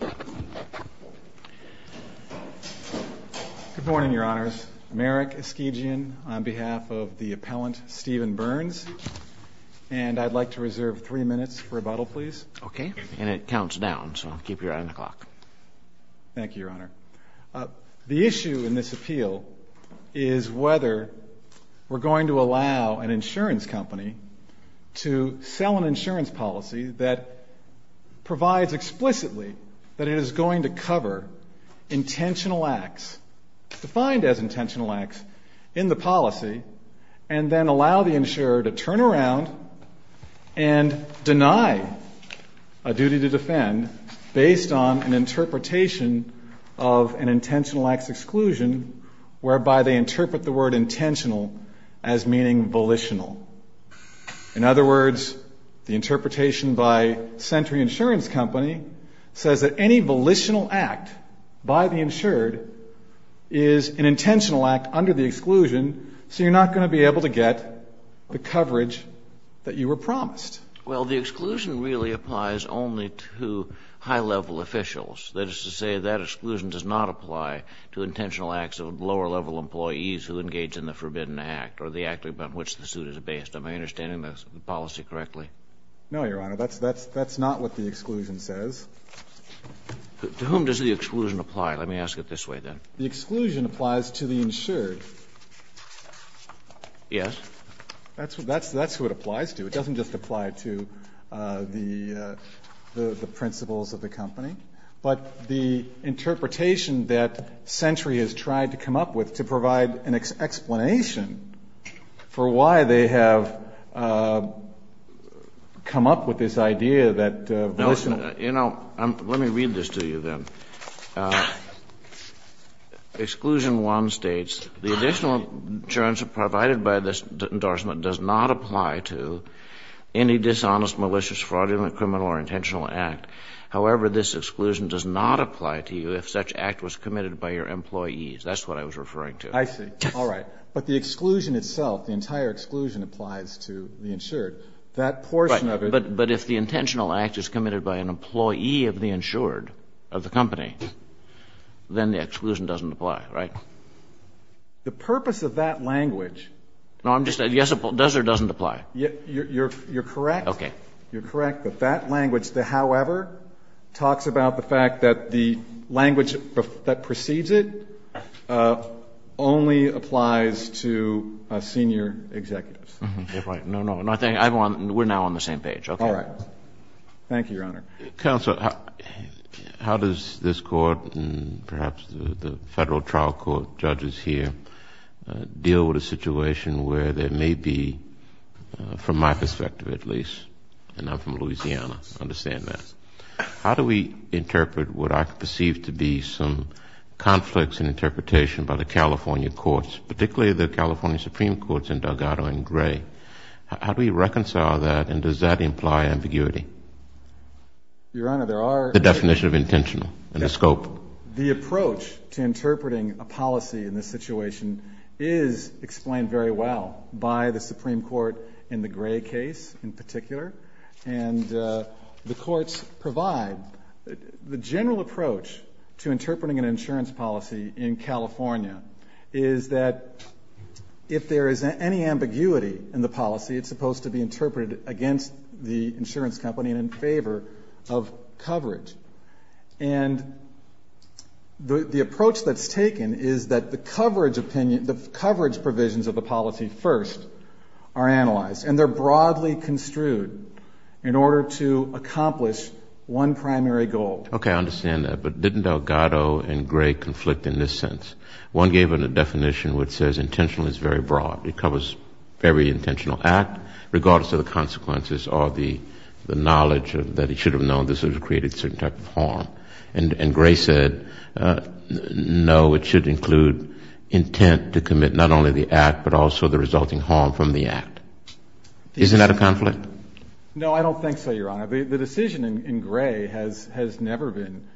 Good morning, Your Honors. Merrick Eskegian on behalf of the appellant Stephen Berns, and I'd like to reserve three minutes for rebuttal, please. Okay, and it counts down, so keep your eye on the clock. Thank you, Your Honor. The issue in this appeal is whether we're going to allow an insurance company to sell an insurance policy that provides explicitly that it is going to cover intentional acts, defined as intentional acts, in the policy, and then allow the insurer to turn around and deny a duty to defend based on an interpretation of an intentional acts exclusion whereby they interpret the word intentional as meaning volitional. In other words, the interpretation by Sentry Insurance Company says that any volitional act by the insured is an intentional act under the exclusion, so you're not going to be able to get the coverage that you were promised. Well, the exclusion really applies only to high-level officials. That is to say, that exclusion does not apply to intentional acts of lower-level employees who engage in the forbidden act or the act on which the suit is based. Am I understanding the policy correctly? No, Your Honor. That's not what the exclusion says. To whom does the exclusion apply? Let me ask it this way, then. The exclusion applies to the insured. Yes. That's what it applies to. It doesn't just apply to the principles of the company. But the interpretation that Sentry has tried to come up with to provide an explanation for why they have come up with this idea that volitional... No. You know, let me read this to you, then. Exclusion 1 states, the additional insurance provided by this endorsement does not apply to any dishonest, malicious, fraudulent, criminal or intentional act. However, this exclusion does not apply to you if such act was committed by your employees. That's what I was referring to. I see. All right. But the exclusion itself, the entire exclusion applies to the insured. That portion of it... Right. But if the intentional act is committed by an employee of the insured, of the company, then the exclusion doesn't apply, right? The purpose of that language... No, I'm just saying, yes, it does or doesn't apply. You're correct. You're correct, but that language, the however, talks about the fact that the language that precedes it only applies to senior executives. No, no. We're now on the same page. All right. Thank you, Your Honor. Counsel, how does this Court and perhaps the Federal trial court judges here deal with a situation where there may be, from my perspective at least, and I'm from Louisiana, I understand that. How do we interpret what I perceive to be some conflicts in interpretation by the California courts, particularly the California Supreme Courts in Delgado and Gray? How do we reconcile that and does that imply ambiguity? Your Honor, there are... The definition of intentional and the scope. The approach to interpreting a policy in this situation is explained very well by the Supreme Court in the Gray case in particular, and the courts provide... The general approach to interpreting an insurance policy in California is that if there is any ambiguity in the policy, it's supposed to be interpreted against the insurance company and in favor of coverage. And the approach that's taken is that the coverage opinion, the coverage provisions of the policy first are analyzed, and they're broadly construed in order to accomplish one primary goal. Okay. I understand that. But didn't Delgado and Gray conflict in this sense? One gave a definition which says intentional is very broad. It covers every intentional act, regardless of the consequences or the knowledge that it should have known. This has created a certain type of harm. And Gray said, no, it should include intent to commit not only the act, but also the resulting harm from the act. Isn't that a conflict? No, I don't think so, Your Honor. The decision in Gray has never been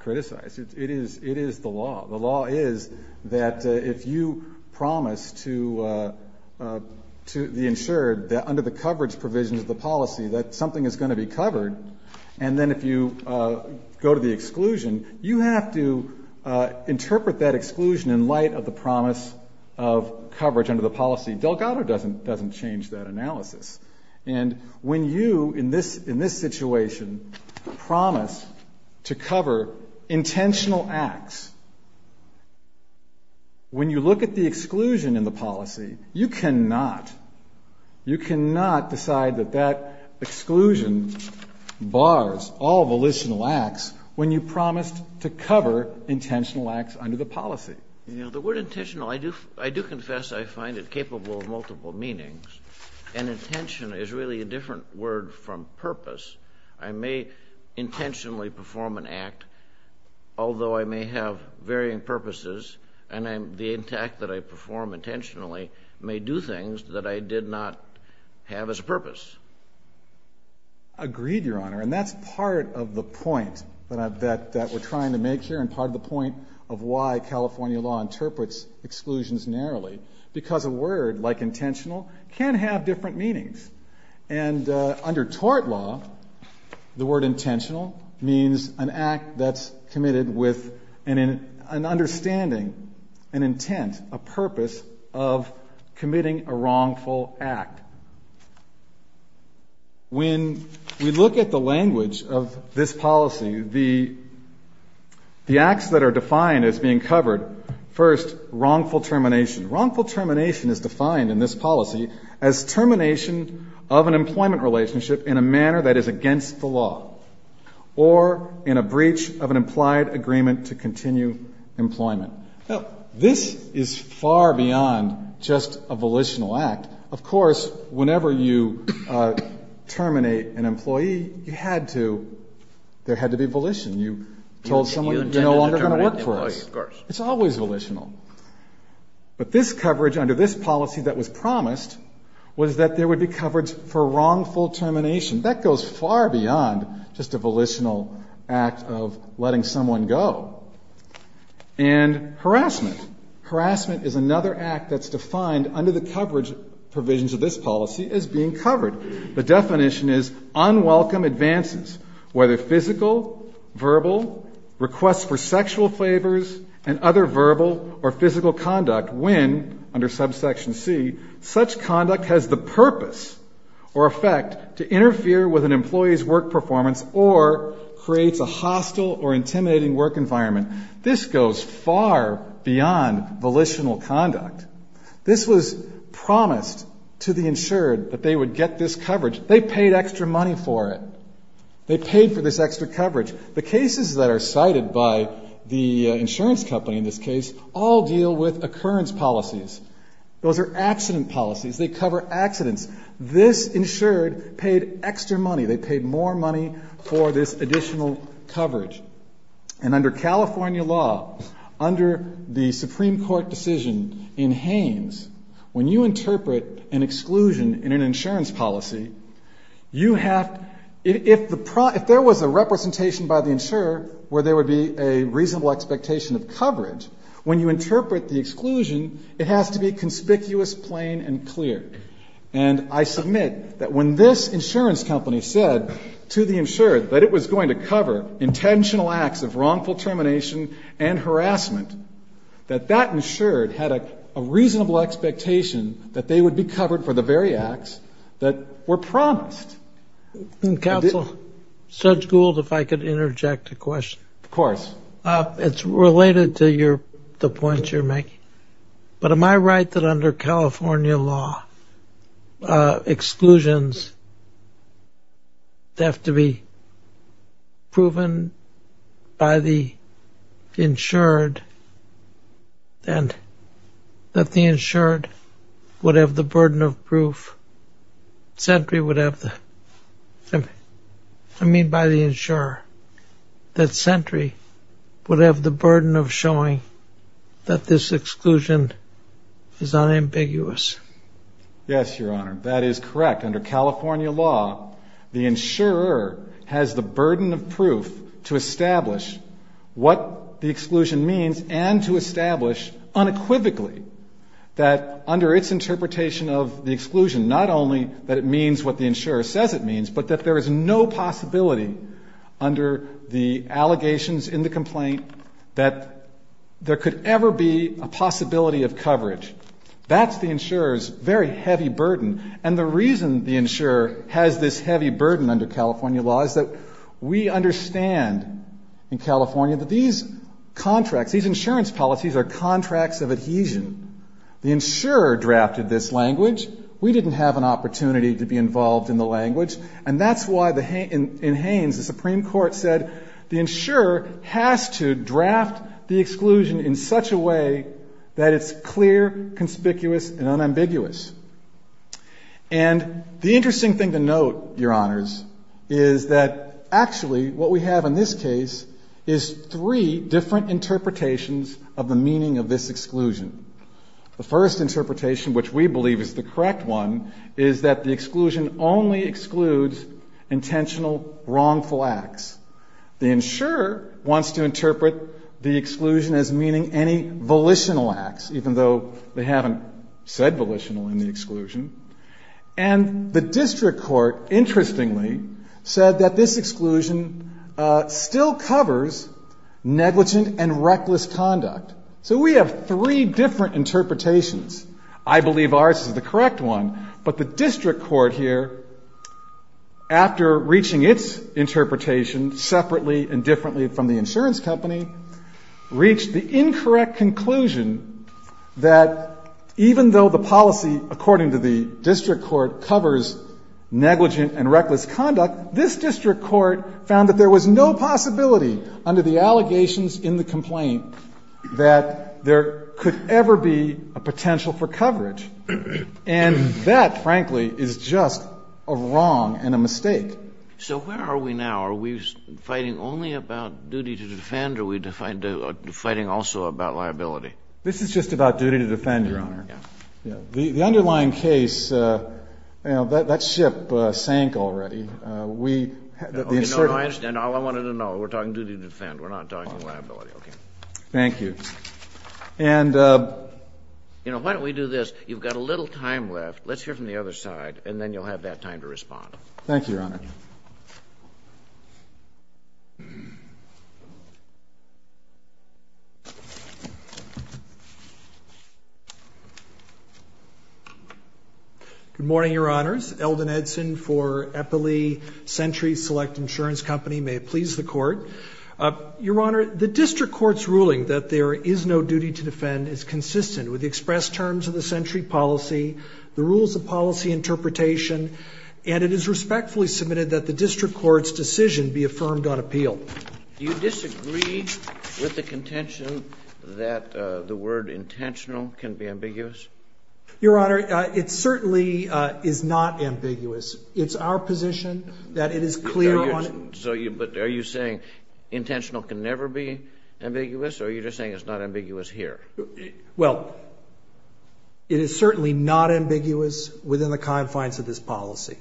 criticized. It is the law. The law is that if you promise to the insured under the coverage provisions of the policy that something is going to be covered, and then if you go to the exclusion, you have to interpret that exclusion in light of the promise of coverage under the policy. Delgado doesn't change that analysis. And when you, in this situation, promise to cover intentional acts, when you look at the exclusion in the policy, you cannot decide that that exclusion bars all volitional acts when you promised to cover intentional acts under the policy. You know, the word intentional, I do confess I find it capable of multiple meanings. And intention is really a different word from purpose. I may intentionally perform an act, although I may have varying purposes, and the act that I perform intentionally may do things that I did not have as a purpose. Agreed, Your Honor. And that's part of the point that we're trying to make here, and part of the point of why California law interprets exclusions narrowly. Because a word like intentional can have different meanings. And under tort law, the word intentional means an act that's understanding an intent, a purpose of committing a wrongful act. When we look at the language of this policy, the acts that are defined as being covered, first, wrongful termination. Wrongful termination is defined in this policy as termination of an employment relationship in a manner that is against the law. Or in a breach of an implied agreement to continue employment. Now, this is far beyond just a volitional act. Of course, whenever you terminate an employee, you had to, there had to be volition. You told someone, you're no longer going to work for us. It's always volitional. But this coverage under this policy that was promised was that there would be coverage for wrongful termination. That goes far beyond just a volitional act of letting someone go. And harassment. Harassment is another act that's defined under the coverage provisions of this policy as being covered. The definition is unwelcome advances, whether physical, verbal, requests for sexual favors, and other verbal or physical conduct when, under subsection C, such conduct has the purpose or effect to interfere with an employee's work performance or creates a hostile or intimidating work environment. This goes far beyond volitional conduct. This was promised to the insured that they would get this coverage. They paid extra money for it. They paid for this extra coverage. The cases that are cited by the insurance company in this case all deal with occurrence policies. Those are accident policies. They cover accidents. This insured paid extra money. They paid more money for this additional coverage. And under California law, under the Supreme Court decision in Haines, when you interpret an exclusion in an insurance policy, you have, if there was a representation by the insurer where there would be a reasonable expectation of coverage, when you interpret the exclusion, it has to be conspicuous, plain, and clear. And I submit that when this insurance company said to the insured that it was going to cover intentional acts of wrongful termination and harassment, that that insured had a reasonable expectation that they would be covered for the very acts that were promised. And Counsel, Judge Gould, if I could interject a question. Of course. It's related to the points you're making. But am I right that under California law, exclusions have to be proven by the insured and that the insured would have the burden of proof, that Sentry would have the, I mean by the insurer, that Sentry would have the burden of showing that this exclusion is unambiguous? Yes, Your Honor, that is correct. Under California law, the insurer has the burden of proof to establish what the exclusion means and to establish unequivocally that under its interpretation of the exclusion, not only that it means what the insurer says it means, but that there is no possibility under the allegations in the complaint that there could ever be a possibility of coverage. That's the insurer's very heavy burden. And the reason the insurer has this heavy burden under California law is that we understand in California that these contracts, these insurance policies are contracts of adhesion. The insurer drafted this language. We didn't have an opportunity to be involved in the language. And that's why in Haines, the Supreme Court said, the insurer has to draft the exclusion in such a way that it's clear, conspicuous, and unambiguous. And the interesting thing to note, Your Honors, is that actually what we have in this case is three different interpretations of the meaning of this exclusion. The first interpretation, which we believe is the correct one, is that the exclusion only excludes intentional wrongful acts. The insurer wants to interpret the exclusion as meaning any volitional acts, even though they haven't said volitional in the exclusion. And the district court, interestingly, said that this exclusion still covers negligent and reckless conduct. So we have three different interpretations. I believe ours is the correct one. But the district court here, after reaching its interpretation separately and differently from the insurance company, reached the incorrect conclusion that even though the policy, according to the district court, covers negligent and reckless conduct, this district court found that there was no possibility under the allegations in the complaint that there could ever be a potential for coverage. And that, frankly, is just a wrong and a mistake. So where are we now? Are we fighting only about duty to defend, or are we fighting also about liability? This is just about duty to defend, Your Honor. Yeah. The underlying case, you know, that ship sank already. We, the insurer- No, no, I understand. All I wanted to know, we're talking duty to defend. We're not talking liability, okay. Thank you. And- You know, why don't we do this? Let's hear from the other side, and then you'll have that time to respond. Thank you, Your Honor. Good morning, Your Honors. Eldon Edson for Eppley Century Select Insurance Company. May it please the Court. Your Honor, the district court's ruling that there is no duty to defend is consistent with the express terms of the Century policy, the rules of policy interpretation, and it is respectfully submitted that the district court's decision be affirmed on appeal. Do you disagree with the contention that the word intentional can be ambiguous? Your Honor, it certainly is not ambiguous. It's our position that it is clear on- So, but are you saying intentional can never be ambiguous, or are you just saying it's not ambiguous here? Well, it is certainly not ambiguous within the confines of this policy.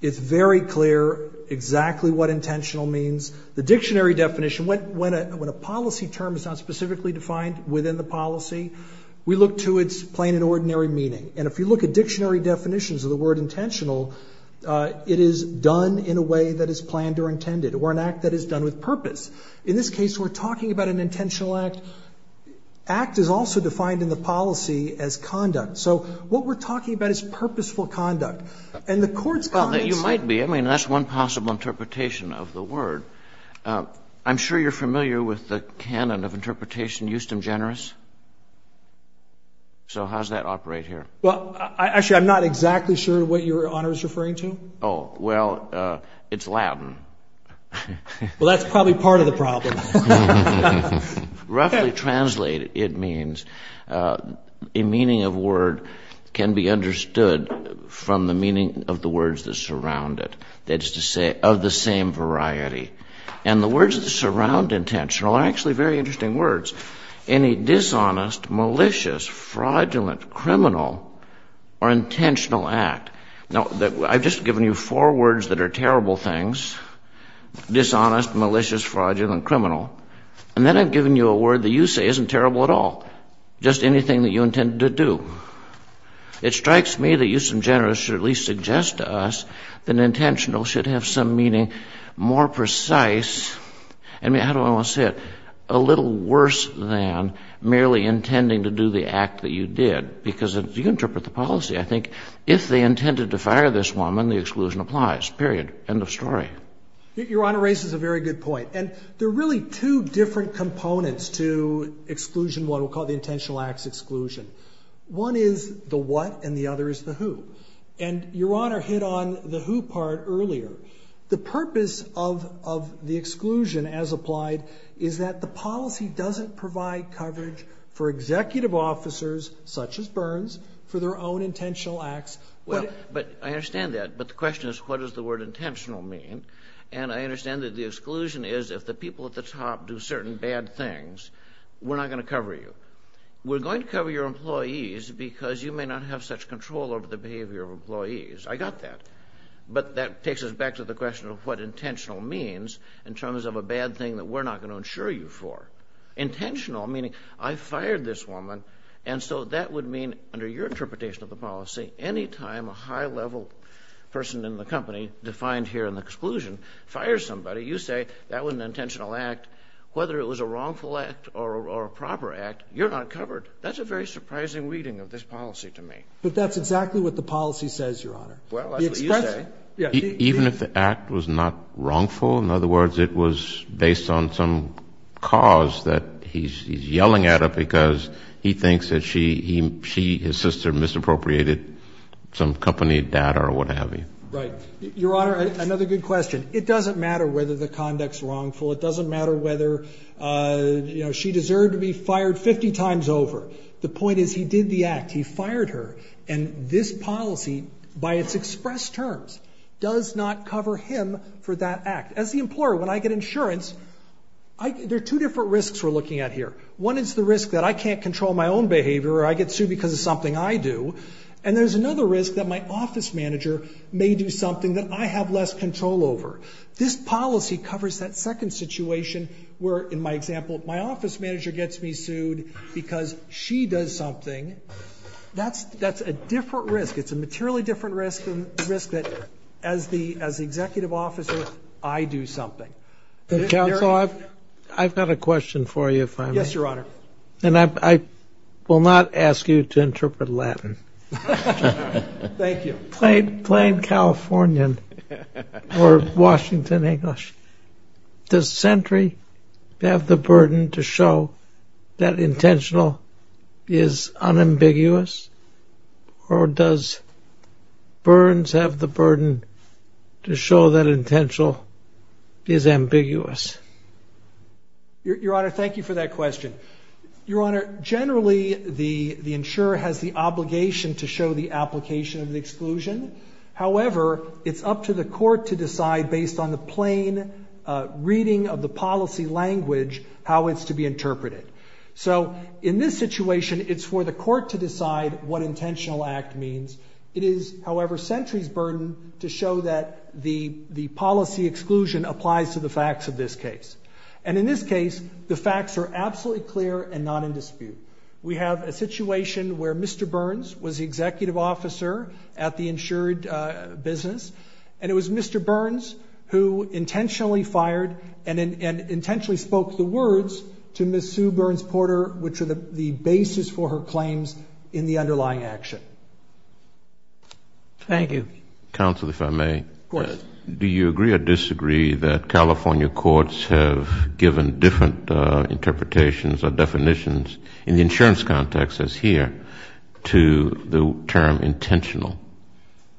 It's very clear exactly what intentional means. The dictionary definition, when a policy term is not specifically defined within the policy, we look to its plain and ordinary meaning. And if you look at dictionary definitions of the word intentional, it is done in a way that is planned or intended, or an act that is done with purpose. In this case, we're talking about an intentional act. Act is also defined in the policy as conduct. So, what we're talking about is purposeful conduct. And the Court's comments- Well, you might be. I mean, that's one possible interpretation of the word. I'm sure you're familiar with the canon of interpretation, justum generis. So, how does that operate here? Well, actually, I'm not exactly sure what Your Honor is referring to. Oh, well, it's Latin. Well, that's probably part of the problem. Roughly translated, it means a meaning of word can be understood from the meaning of the words that surround it. That is to say, of the same variety. And the words that surround intentional are actually very interesting words. Any dishonest, malicious, fraudulent, criminal, or intentional act. Now, I've just given you four words that are terrible things. Dishonest, malicious, fraudulent, criminal. And then I've given you a word that you say isn't terrible at all. Just anything that you intend to do. It strikes me that justum generis should at least suggest to us that intentional should have some meaning more precise. I mean, how do I want to say it? A little worse than merely intending to do the act that you did. Because if you interpret the policy, I think if they intended to fire this woman, the exclusion applies. Period. End of story. Your Honor raises a very good point. And there are really two different components to exclusion, what we'll call the intentional acts exclusion. One is the what and the other is the who. And Your Honor hit on the who part earlier. The purpose of the exclusion as applied is that the policy doesn't provide coverage for executive officers, such as Burns, for their own intentional acts. Well, but I understand that. But the question is, what does the word intentional mean? And I understand that the exclusion is if the people at the top do certain bad things, we're not going to cover you. We're going to cover your employees because you may not have such control over the behavior of employees. I got that. But that takes us back to the question of what intentional means in terms of a bad thing that we're not going to insure you for. Intentional, meaning I fired this woman. And so that would mean, under your interpretation of the policy, any time a high level person in the company, defined here in the exclusion, fires somebody, you say that was an intentional act. Whether it was a wrongful act or a proper act, you're not covered. That's a very surprising reading of this policy to me. But that's exactly what the policy says, Your Honor. Well, that's what you say. Even if the act was not wrongful? In other words, it was based on some cause that he's yelling at her because he thinks that she, his sister, misappropriated some company data or what have you. Right. Your Honor, another good question. It doesn't matter whether the conduct's wrongful. It doesn't matter whether she deserved to be fired 50 times over. The point is he did the act. He fired her. And this policy, by its expressed terms, does not cover him for that act. As the employer, when I get insurance, there are two different risks we're looking at here. One is the risk that I can't control my own behavior or I get sued because of something I do. And there's another risk that my office manager may do something that I have less control over. This policy covers that second situation where, in my example, my office manager gets me sued because she does something. That's a different risk. It's a materially different risk than the risk that, as the executive officer, I do something. But counsel, I've got a question for you, if I may. Yes, Your Honor. And I will not ask you to interpret Latin. Thank you. Plain Californian or Washington English. Does Sentry have the burden to show that intentional is unambiguous? Or does Burns have the burden to show that intentional is ambiguous? Your Honor, thank you for that question. Your Honor, generally, the insurer has the obligation to show the application of the exclusion. However, it's up to the court to decide, based on the plain reading of the policy language, how it's to be interpreted. So in this situation, it's for the court to decide what intentional act means. It is, however, Sentry's burden to show that the policy exclusion applies to the facts of this case. And in this case, the facts are absolutely clear and not in dispute. We have a situation where Mr. Burns was the executive officer at the insured business. And it was Mr. Burns who intentionally fired and intentionally spoke the words to Ms. Sue Burns Porter, which are the basis for her claims in the underlying action. Thank you. Counsel, if I may. Of course. Do you agree or disagree that California courts have given different interpretations or definitions in the insurance context, as here, to the term intentional?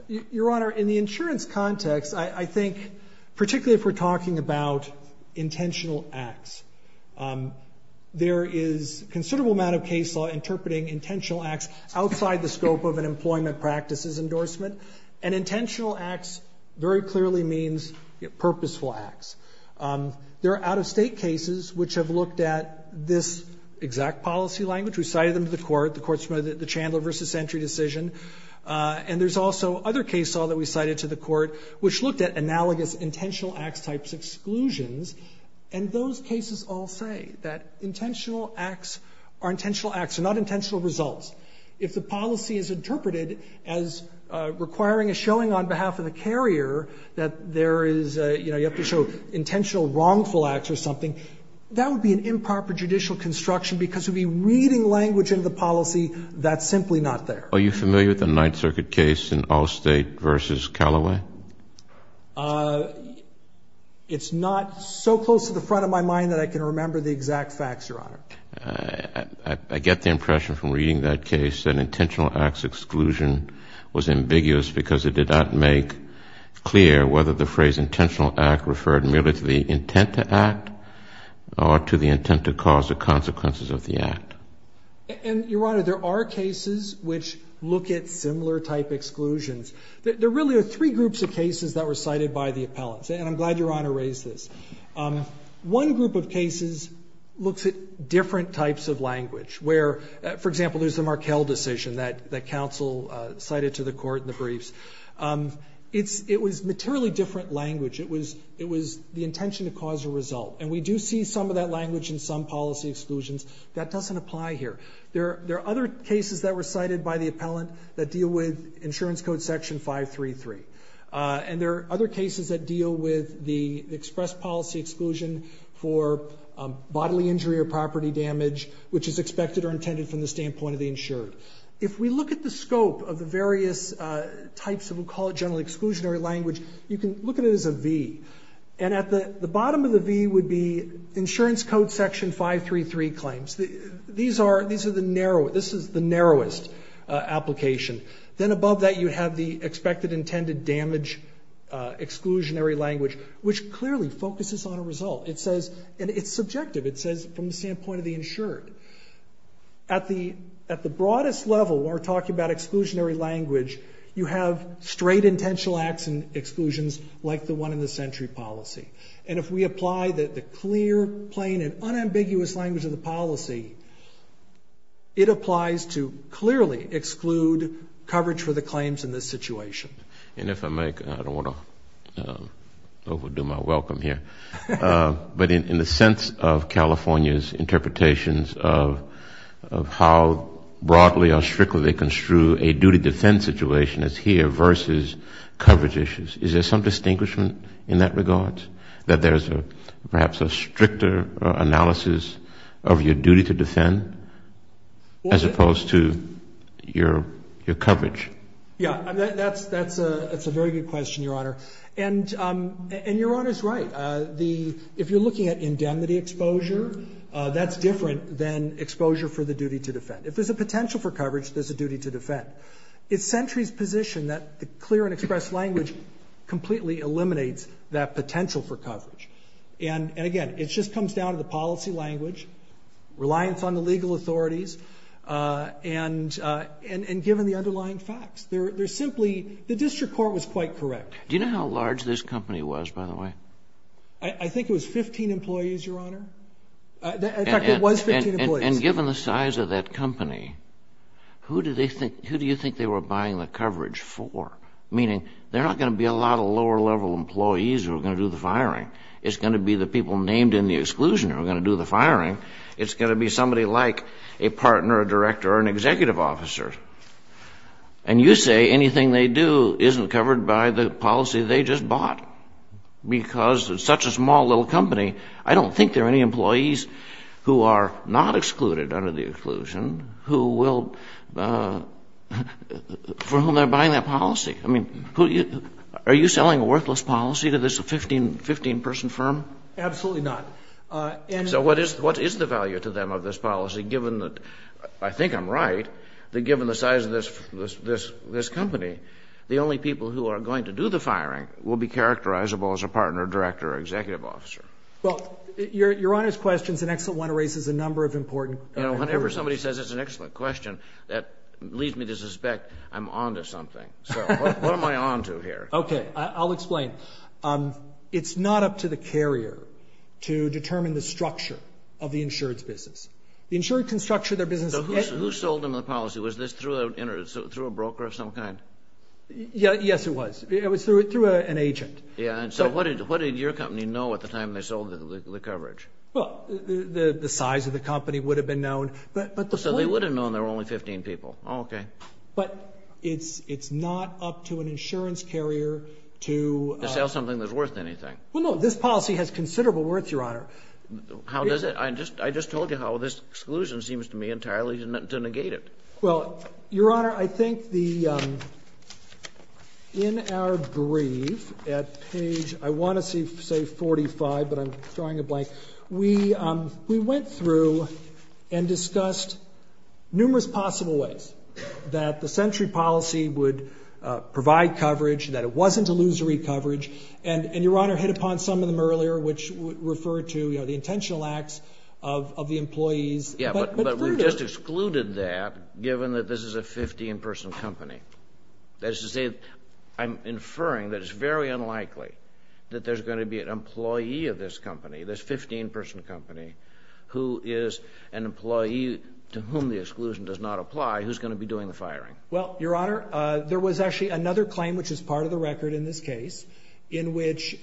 Your Honor, in the insurance context, I think, particularly if we're talking about intentional acts, there is a considerable amount of case law interpreting intentional acts outside the scope of an employment practices endorsement. And intentional acts very clearly means purposeful acts. There are out-of-state cases which have looked at this exact policy language. We cited them to the court. The court submitted the Chandler versus Sentry decision. And there's also other case law that we cited to the court, which looked at analogous intentional acts types exclusions. And those cases all say that intentional acts are not intentional results. If the policy is interpreted as requiring a showing on behalf of the carrier that there is a, you know, you have to show intentional wrongful acts or something, that would be an improper judicial construction, because it would be reading language into the policy that's simply not there. Are you familiar with the Ninth Circuit case in Allstate versus Callaway? It's not so close to the front of my mind that I can remember the exact facts, Your Honor. I get the impression from reading that case that intentional acts exclusion was ambiguous because it did not make clear whether the phrase intentional act referred merely to the intent to act or to the intent to cause the consequences of the act. And, Your Honor, there are cases which look at similar type exclusions. There really are three groups of cases that were cited by the appellants. And I'm glad Your Honor raised this. One group of cases looks at different types of language, where, for example, there's the Markell decision that counsel cited to the court in the briefs. It was materially different language. It was the intention to cause a result. And we do see some of that language in some policy exclusions. That doesn't apply here. There are other cases that were cited by the appellant that deal with insurance code section 533. And there are other cases that deal with the express policy exclusion for bodily injury or property damage, which is expected or intended from the standpoint of the insured. If we look at the scope of the various types of, we'll call it generally exclusionary language, you can look at it as a V. And at the bottom of the V would be insurance code section 533 claims. These are the narrowest, this is the narrowest application. Then above that you have the expected intended damage exclusionary language, which clearly focuses on a result. It says, and it's subjective, it says from the standpoint of the insured. At the broadest level, when we're talking about exclusionary language, you have straight intentional acts and exclusions like the one in the century policy. And if we apply the clear, plain, and unambiguous language of the policy, it applies to clearly exclude coverage for the claims in this situation. And if I may, I don't want to overdo my welcome here, but in the sense of California's interpretations of how broadly or strictly they construe a duty to defend situation as here versus coverage issues, is there some distinguishment in that regard? That there's perhaps a stricter analysis of your duty to defend as opposed to your coverage? Yeah, that's a very good question, Your Honor. And Your Honor's right. If you're looking at indemnity exposure, that's different than exposure for the duty to defend. If there's a potential for coverage, there's a duty to defend. It's Sentry's position that the clear and express language completely eliminates that potential for coverage. And again, it just comes down to the policy language, reliance on the legal authorities, and given the underlying facts. They're simply, the district court was quite correct. Do you know how large this company was, by the way? I think it was 15 employees, Your Honor. In fact, it was 15 employees. And given the size of that company, who do you think they were buying the coverage for? Meaning, they're not going to be a lot of lower level employees who are going to do the firing. It's going to be the people named in the exclusion who are going to do the firing. It's going to be somebody like a partner, a director, or an executive officer. And you say anything they do isn't covered by the policy they just bought. Because it's such a small little company, I don't think there are any employees who are not excluded under the exclusion who will, for whom they're buying that policy. I mean, are you selling a worthless policy to this 15 person firm? Absolutely not. So what is the value to them of this policy, given that, I think I'm right, that given the size of this company, the only people who are going to do the firing will be characterizable as a partner, director, or executive officer. Well, your Honor's question is an excellent one. It raises a number of important questions. You know, whenever somebody says it's an excellent question, that leads me to suspect I'm on to something. So what am I on to here? Okay, I'll explain. It's not up to the carrier to determine the structure of the insured's business. The insured can structure their business. So who sold them the policy? Was this through a broker of some kind? Yes, it was. It was through an agent. Yeah, and so what did your company know at the time they sold the coverage? Well, the size of the company would have been known. So they would have known there were only 15 people. Oh, okay. But it's not up to an insurance carrier to... To sell something that's worth anything. Well, no, this policy has considerable worth, Your Honor. How does it? I just told you how this exclusion seems to me entirely to negate it. Well, Your Honor, I think the... In our brief at page, I want to say 45, but I'm drawing a blank. We went through and discussed numerous possible ways that the century policy would provide coverage, that it wasn't illusory coverage. And Your Honor hit upon some of them earlier, which refer to the intentional acts of the employees. Yeah, but we've just excluded that, given that this is a 15-person company. That is to say, I'm inferring that it's very unlikely that there's going to be an employee of this company, this 15-person company, who is an employee to whom the exclusion does not apply, who's going to be doing the firing. Well, Your Honor, there was actually another claim, which is part of the record in this case, in which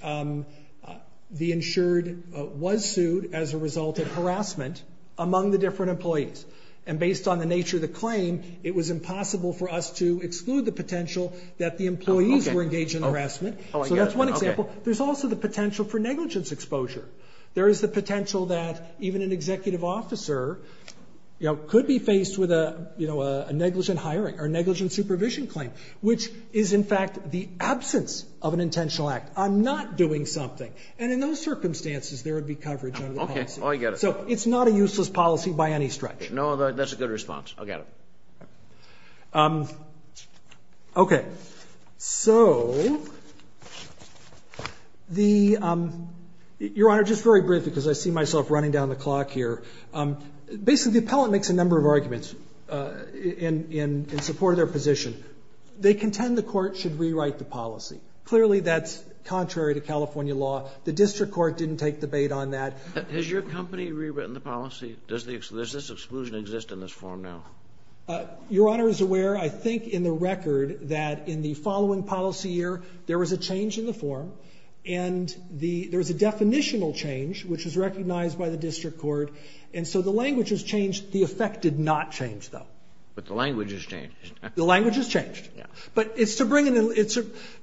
the insured was sued as a result of harassment among the different employees. And based on the nature of the claim, it was impossible for us to exclude the potential that the employees were engaged in harassment. So that's one example. There's also the potential for negligence exposure. There is the potential that even an executive officer could be faced with a negligent hiring or negligent supervision claim, which is in fact the absence of an intentional act. I'm not doing something. And in those circumstances, there would be coverage under the policy. So it's not a useless policy by any stretch. No, that's a good response. I'll get it. Okay. So, Your Honor, just very briefly, because I see myself running down the clock here. Basically, the appellant makes a number of arguments in support of their position. They contend the court should rewrite the policy. Clearly, that's contrary to California law. The district court didn't take debate on that. Has your company rewritten the policy? Does this exclusion exist in this form now? Your Honor is aware, I think in the record, that in the following policy year, there was a change in the form and there was a definitional change, which was recognized by the district court. And so the language has changed. The effect did not change, though. But the language has changed. The language has changed. But it's to bring in...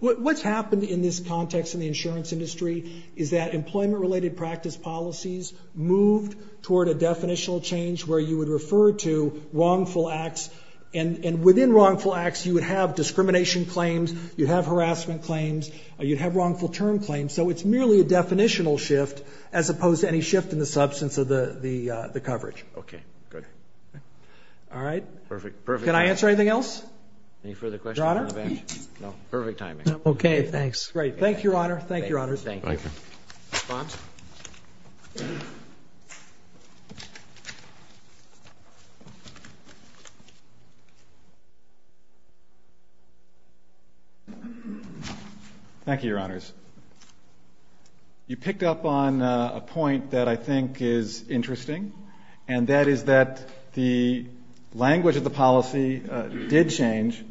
What's happened in this context in the insurance industry is that employment-related practice policies moved toward a definitional change where you would refer to wrongful acts. And within wrongful acts, you would have discrimination claims, you'd have harassment claims, you'd have wrongful term claims. So it's merely a definitional shift as opposed to any shift in the substance of the coverage. Okay, good. All right. Perfect. Can I answer anything else? Your Honor? Perfect timing. Okay, thanks. Great, thank you, Your Honor. Thank you, Your Honors. Thank you. Response? Thank you, Your Honors. You picked up on a point that I think is interesting, and that is that the language of the policy did change.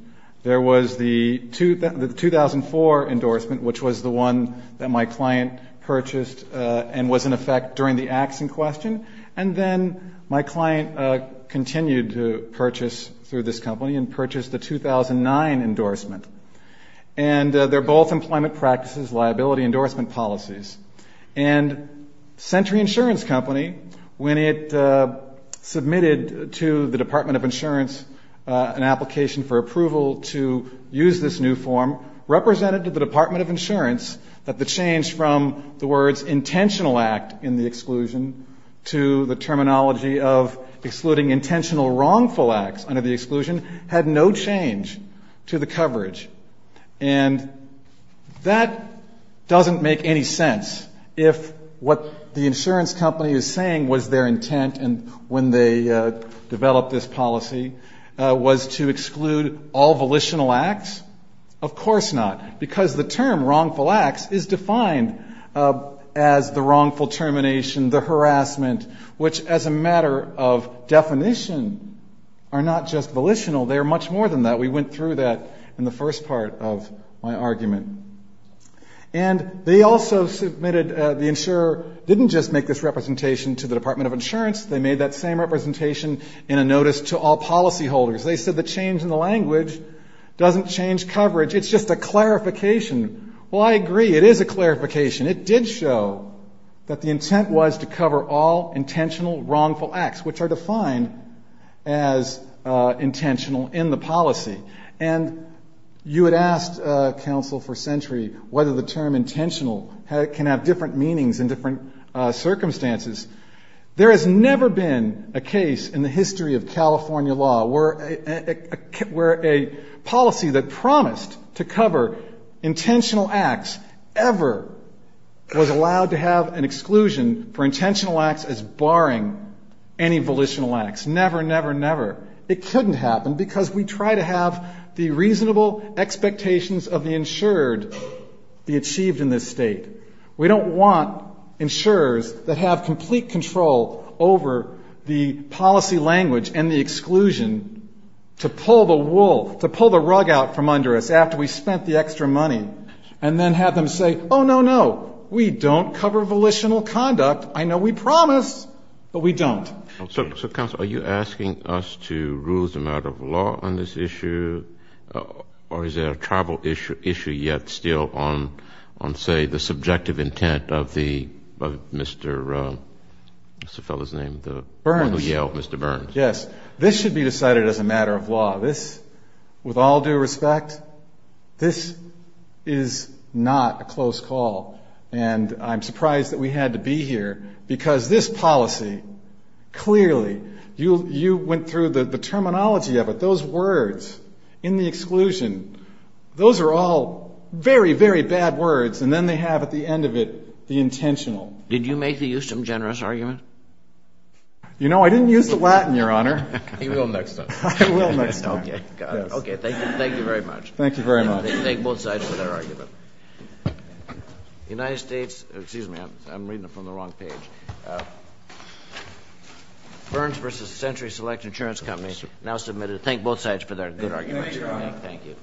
There was the 2004 endorsement, which was the one that my client purchased and was in effect during the acts in question. And then my client continued to purchase through this company and purchased the 2009 endorsement. And they're both employment practices, liability endorsement policies. And Century Insurance Company, when it submitted to the Department of Insurance an application for approval to use this new form, represented to the Department of Insurance that the change from the words intentional act in the exclusion to the terminology of excluding intentional wrongful acts under the exclusion had no change to the coverage. And that doesn't make any sense if what the insurance company is saying was their intent and when they developed this policy was to exclude all volitional acts. Of course not, because the term wrongful acts is defined as the wrongful termination, the harassment, which as a matter of definition are not just volitional, they are much more than that. We went through that in the first part of my argument. And they also submitted, the insurer didn't just make this representation to the Department of Insurance, they made that same representation in a notice to all policyholders. They said the change in the language doesn't change coverage, it's just a clarification. Well, I agree, it is a clarification. It did show that the intent was to cover all intentional wrongful acts, which are defined as intentional in the policy. And you had asked counsel for century whether the term intentional can have different meanings in different circumstances. There has never been a case in the history of California law where a policy that promised to cover intentional acts ever was allowed to have an exclusion for intentional acts as barring any volitional acts. Never, never, never. It couldn't happen because we try to have the reasonable expectations of the insured be achieved in this state. We don't want insurers that have complete control over the policy language and the exclusion to pull the wool, to pull the rug out from under us after we spent the extra money and then have them say, oh no, no, we don't cover volitional conduct. I know we promise, but we don't. So counsel, are you asking us to rule as a matter of law on this issue? Or is there a tribal issue yet still on, say, the subjective intent of the, of Mr., what's the fellow's name? The one who yelled, Mr. Burns. Yes, this should be decided as a matter of law. This, with all due respect, this is not a close call. And I'm surprised that we had to be here because this policy clearly, you went through the terminology of it. Those words in the exclusion, those are all very, very bad words. And then they have at the end of it, the intentional. Did you make the Ustom generous argument? You know, I didn't use the Latin, Your Honor. He will next time. I will next time. Okay, got it. Okay, thank you very much. Thank you very much. Thank both sides for their argument. United States, excuse me, I'm reading it from the wrong page. Burns versus Century Select Insurance Company, now submitted. Thank both sides for their good argument. Thank you, Your Honor. Thank you.